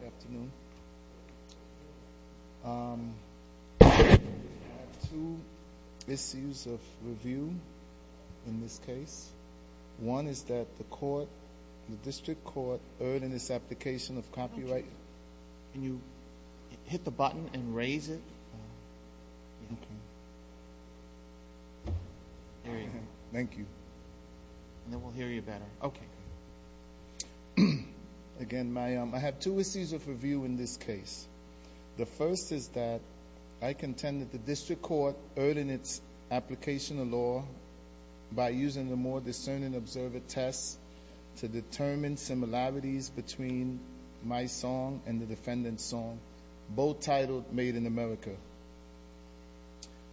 Good afternoon. I have two issues of review in this case. One is that the court, the district court earned in this application of copyright. Can you hit the button and raise it? Thank you. And then we'll hear you better. Okay. Again, I have two issues of review in this case. The first is that I contend that the district court earned in its application of law by using the more discerning observer test to determine similarities between my song and the defendant's song, both titled Made in America.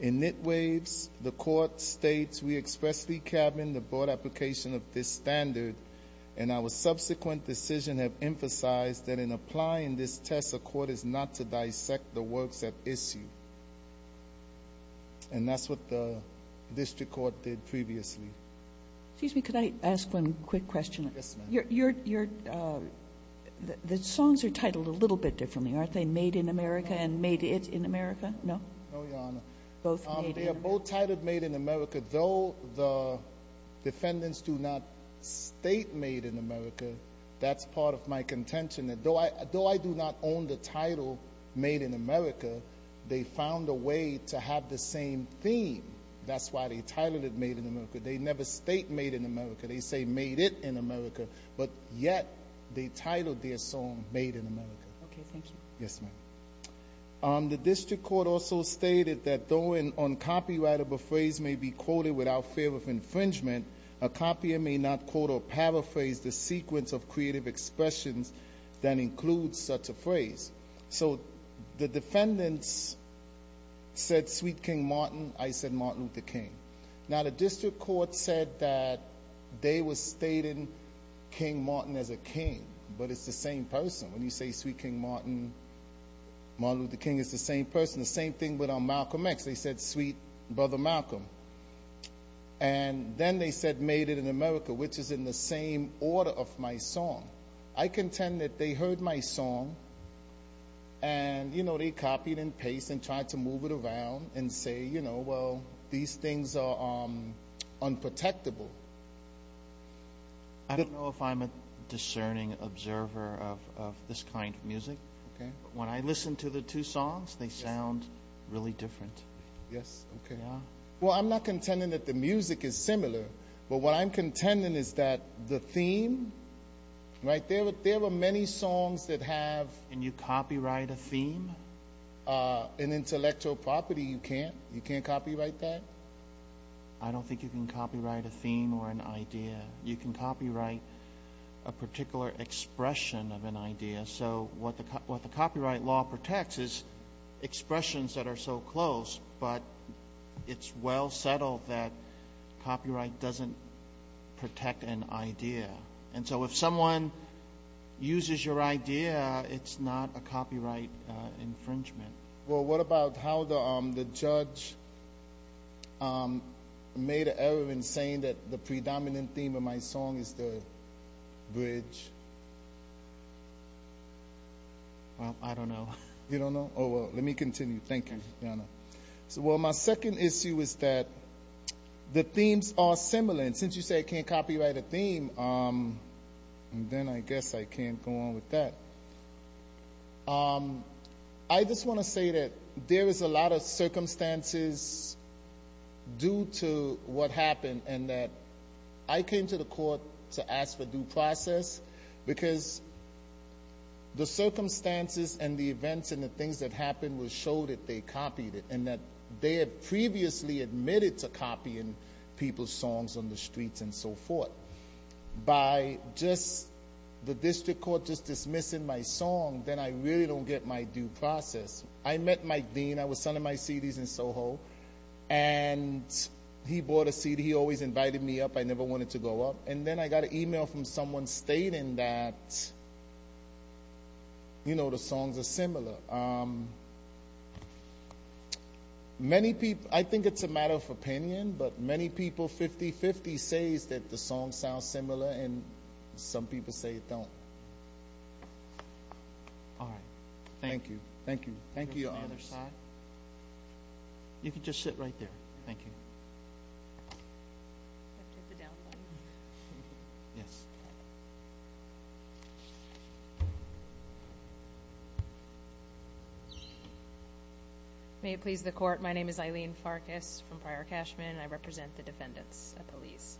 In nitwaves, the court states, we expressly cabin the broad application of this standard, and our subsequent decision have emphasized that in applying this test, the court is not to dissect the works at issue. And that's what the district court did previously. Excuse me, could I ask one quick question? Yes, ma'am. The songs are titled a little bit differently. Aren't they Made in America and Made It in America? No, Your Honor. They are both titled Made in America. Though the defendants do not state Made in America, that's part of my contention. Though I do not own the title Made in America, they found a way to have the same theme. That's why they titled it Made in America. They never state Made in America. They say Made It in America, but yet they titled their song Made in America. Okay, thank you. Yes, ma'am. The district court also stated that though an uncopyrightable phrase may be quoted without fear of infringement, a copier may not quote or paraphrase the sequence of creative expressions that includes such a phrase. So the defendants said Sweet King Martin, I said Martin Luther King. Now, the district court said that they were stating King Martin as a king, but it's the same person. When you say Sweet King Martin, Martin Luther King is the same person, the same thing with Malcolm X. They said Sweet Brother Malcolm. And then they said Made in America, which is in the same order of my song. I contend that they heard my song and, you know, they copied and pasted and tried to move it around and say, you know, well, these things are unprotectable. I don't know if I'm a discerning observer of this kind of music. When I listen to the two songs, they sound really different. Yes, okay. Well, I'm not contending that the music is similar, but what I'm contending is that the theme, right, there were many songs that have. Can you copyright a theme? An intellectual property, you can't? You can't copyright that? I don't think you can copyright a theme or an idea. You can copyright a particular expression of an idea. So what the copyright law protects is expressions that are so close, but it's well settled that copyright doesn't protect an idea. And so if someone uses your idea, it's not a copyright infringement. Well, what about how the judge made an error in saying that the predominant theme of my song is the bridge? Well, I don't know. You don't know? Oh, well, let me continue. Thank you. Well, my second issue is that the themes are similar. And since you say I can't copyright a theme, then I guess I can't go on with that. I just want to say that there is a lot of circumstances due to what happened and that I came to the court to ask for due process because the circumstances and the events and the things that happened will show that they copied it and that they had previously admitted to copying people's songs on the streets and so forth. By just the district court just dismissing my song, then I really don't get my due process. I met Mike Dean. I was selling my CDs in SoHo, and he bought a CD. He always invited me up. I never wanted to go up. And then I got an email from someone stating that, you know, the songs are similar. I think it's a matter of opinion, but many people, 50-50, say that the songs sound similar, and some people say they don't. All right. Thank you. Thank you. Thank you, Your Honor. You can just sit right there. Thank you. I'll take the down one. Yes. May it please the court, my name is Eileen Farkas from Prior Cashman, and I represent the defendants of police.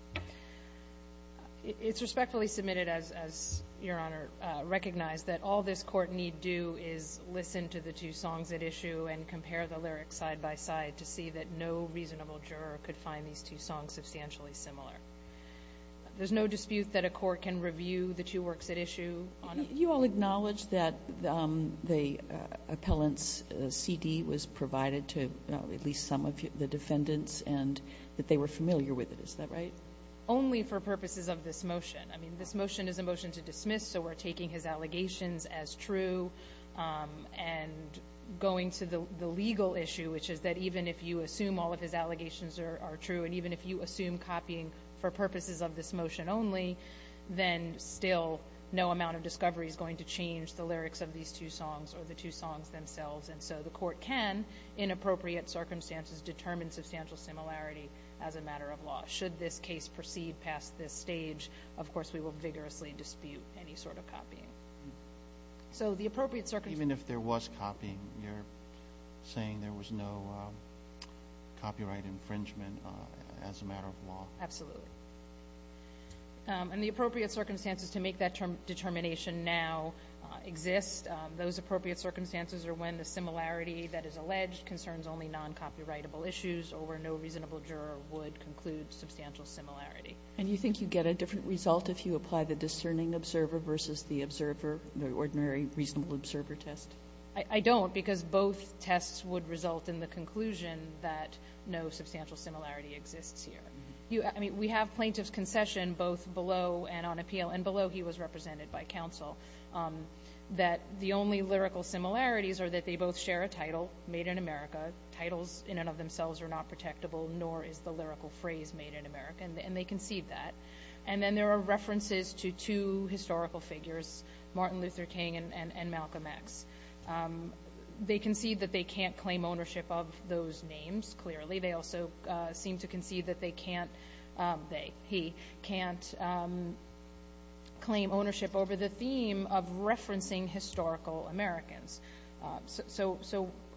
It's respectfully submitted, as Your Honor recognized, that all this court need do is listen to the two songs at issue and compare the lyrics side-by-side to see that no reasonable juror could find these two songs substantially similar. There's no dispute that a court can review the two works at issue? You all acknowledge that the appellant's CD was provided to at least some of the defendants and that they were familiar with it, is that right? Only for purposes of this motion. I mean, this motion is a motion to dismiss, so we're taking his allegations as true and going to the legal issue, which is that even if you assume all of his allegations are true and even if you assume copying for purposes of this motion only, then still no amount of discovery is going to change the lyrics of these two songs or the two songs themselves. And so the court can, in appropriate circumstances, determine substantial similarity as a matter of law. Should this case proceed past this stage, of course we will vigorously dispute any sort of copying. So the appropriate circumstances. Even if there was copying, you're saying there was no copyright infringement as a matter of law? Absolutely. And the appropriate circumstances to make that determination now exist. Those appropriate circumstances are when the similarity that is alleged concerns only non-copyrightable issues or where no reasonable juror would conclude substantial similarity. And you think you get a different result if you apply the discerning observer versus the observer, the ordinary reasonable observer test? I don't, because both tests would result in the conclusion that no substantial similarity exists here. I mean, we have plaintiff's concession both below and on appeal, and below he was represented by counsel, that the only lyrical similarities are that they both share a title, Made in America. Titles in and of themselves are not protectable, nor is the lyrical phrase Made in America. And they concede that. And then there are references to two historical figures, Martin Luther King and Malcolm X. They concede that they can't claim ownership of those names, clearly. They also seem to concede that he can't claim ownership over the theme of referencing historical Americans.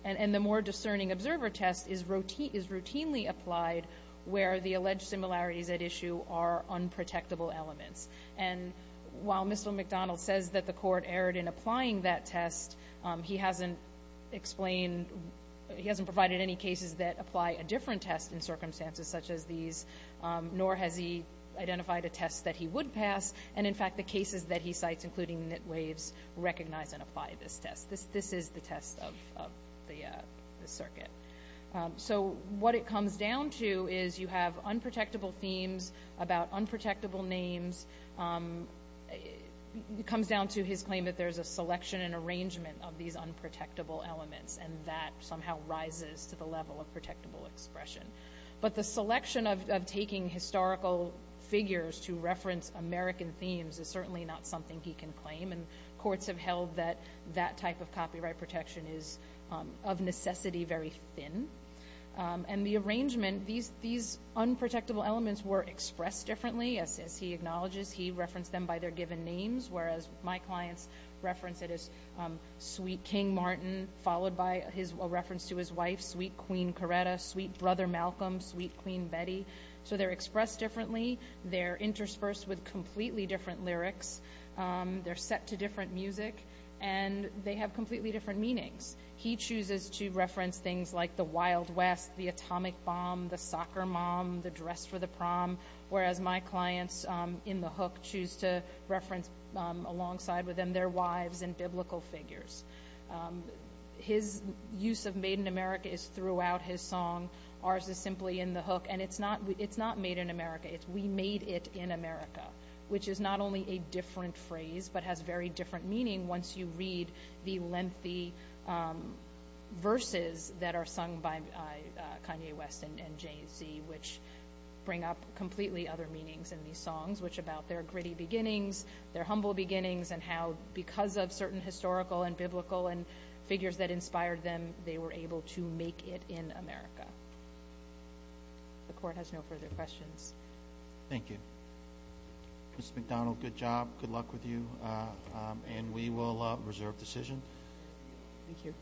And the more discerning observer test is routinely applied where the alleged similarities at issue are unprotectable elements. And while Mr. McDonald says that the court erred in applying that test, he hasn't provided any cases that apply a different test in circumstances such as these, nor has he identified a test that he would pass. And, in fact, the cases that he cites, including knit waves, recognize and apply this test. This is the test of the circuit. So what it comes down to is you have unprotectable themes about unprotectable names. It comes down to his claim that there's a selection and arrangement of these unprotectable elements, and that somehow rises to the level of protectable expression. But the selection of taking historical figures to reference American themes is certainly not something he can claim, and courts have held that that type of copyright protection is of necessity very thin. And the arrangement, these unprotectable elements were expressed differently, as he acknowledges. He referenced them by their given names, whereas my clients reference it as sweet King Martin, followed by a reference to his wife, sweet Queen Coretta, sweet Brother Malcolm, sweet Queen Betty. So they're expressed differently. They're interspersed with completely different lyrics. They're set to different music, and they have completely different meanings. He chooses to reference things like the Wild West, the atomic bomb, the soccer mom, the dress for the prom, whereas my clients in the hook choose to reference alongside with them their wives and biblical figures. His use of made in America is throughout his song. Ours is simply in the hook, and it's not made in America. It's we made it in America, which is not only a different phrase but has very different meaning once you read the lengthy verses that are sung by Kanye West and Jay-Z, which bring up completely other meanings in these songs, which are about their gritty beginnings, their humble beginnings, and how because of certain historical and biblical figures that inspired them, they were able to make it in America. The court has no further questions. Thank you. Mr. McDonald, good job. Good luck with you, and we will reserve decision. Thank you.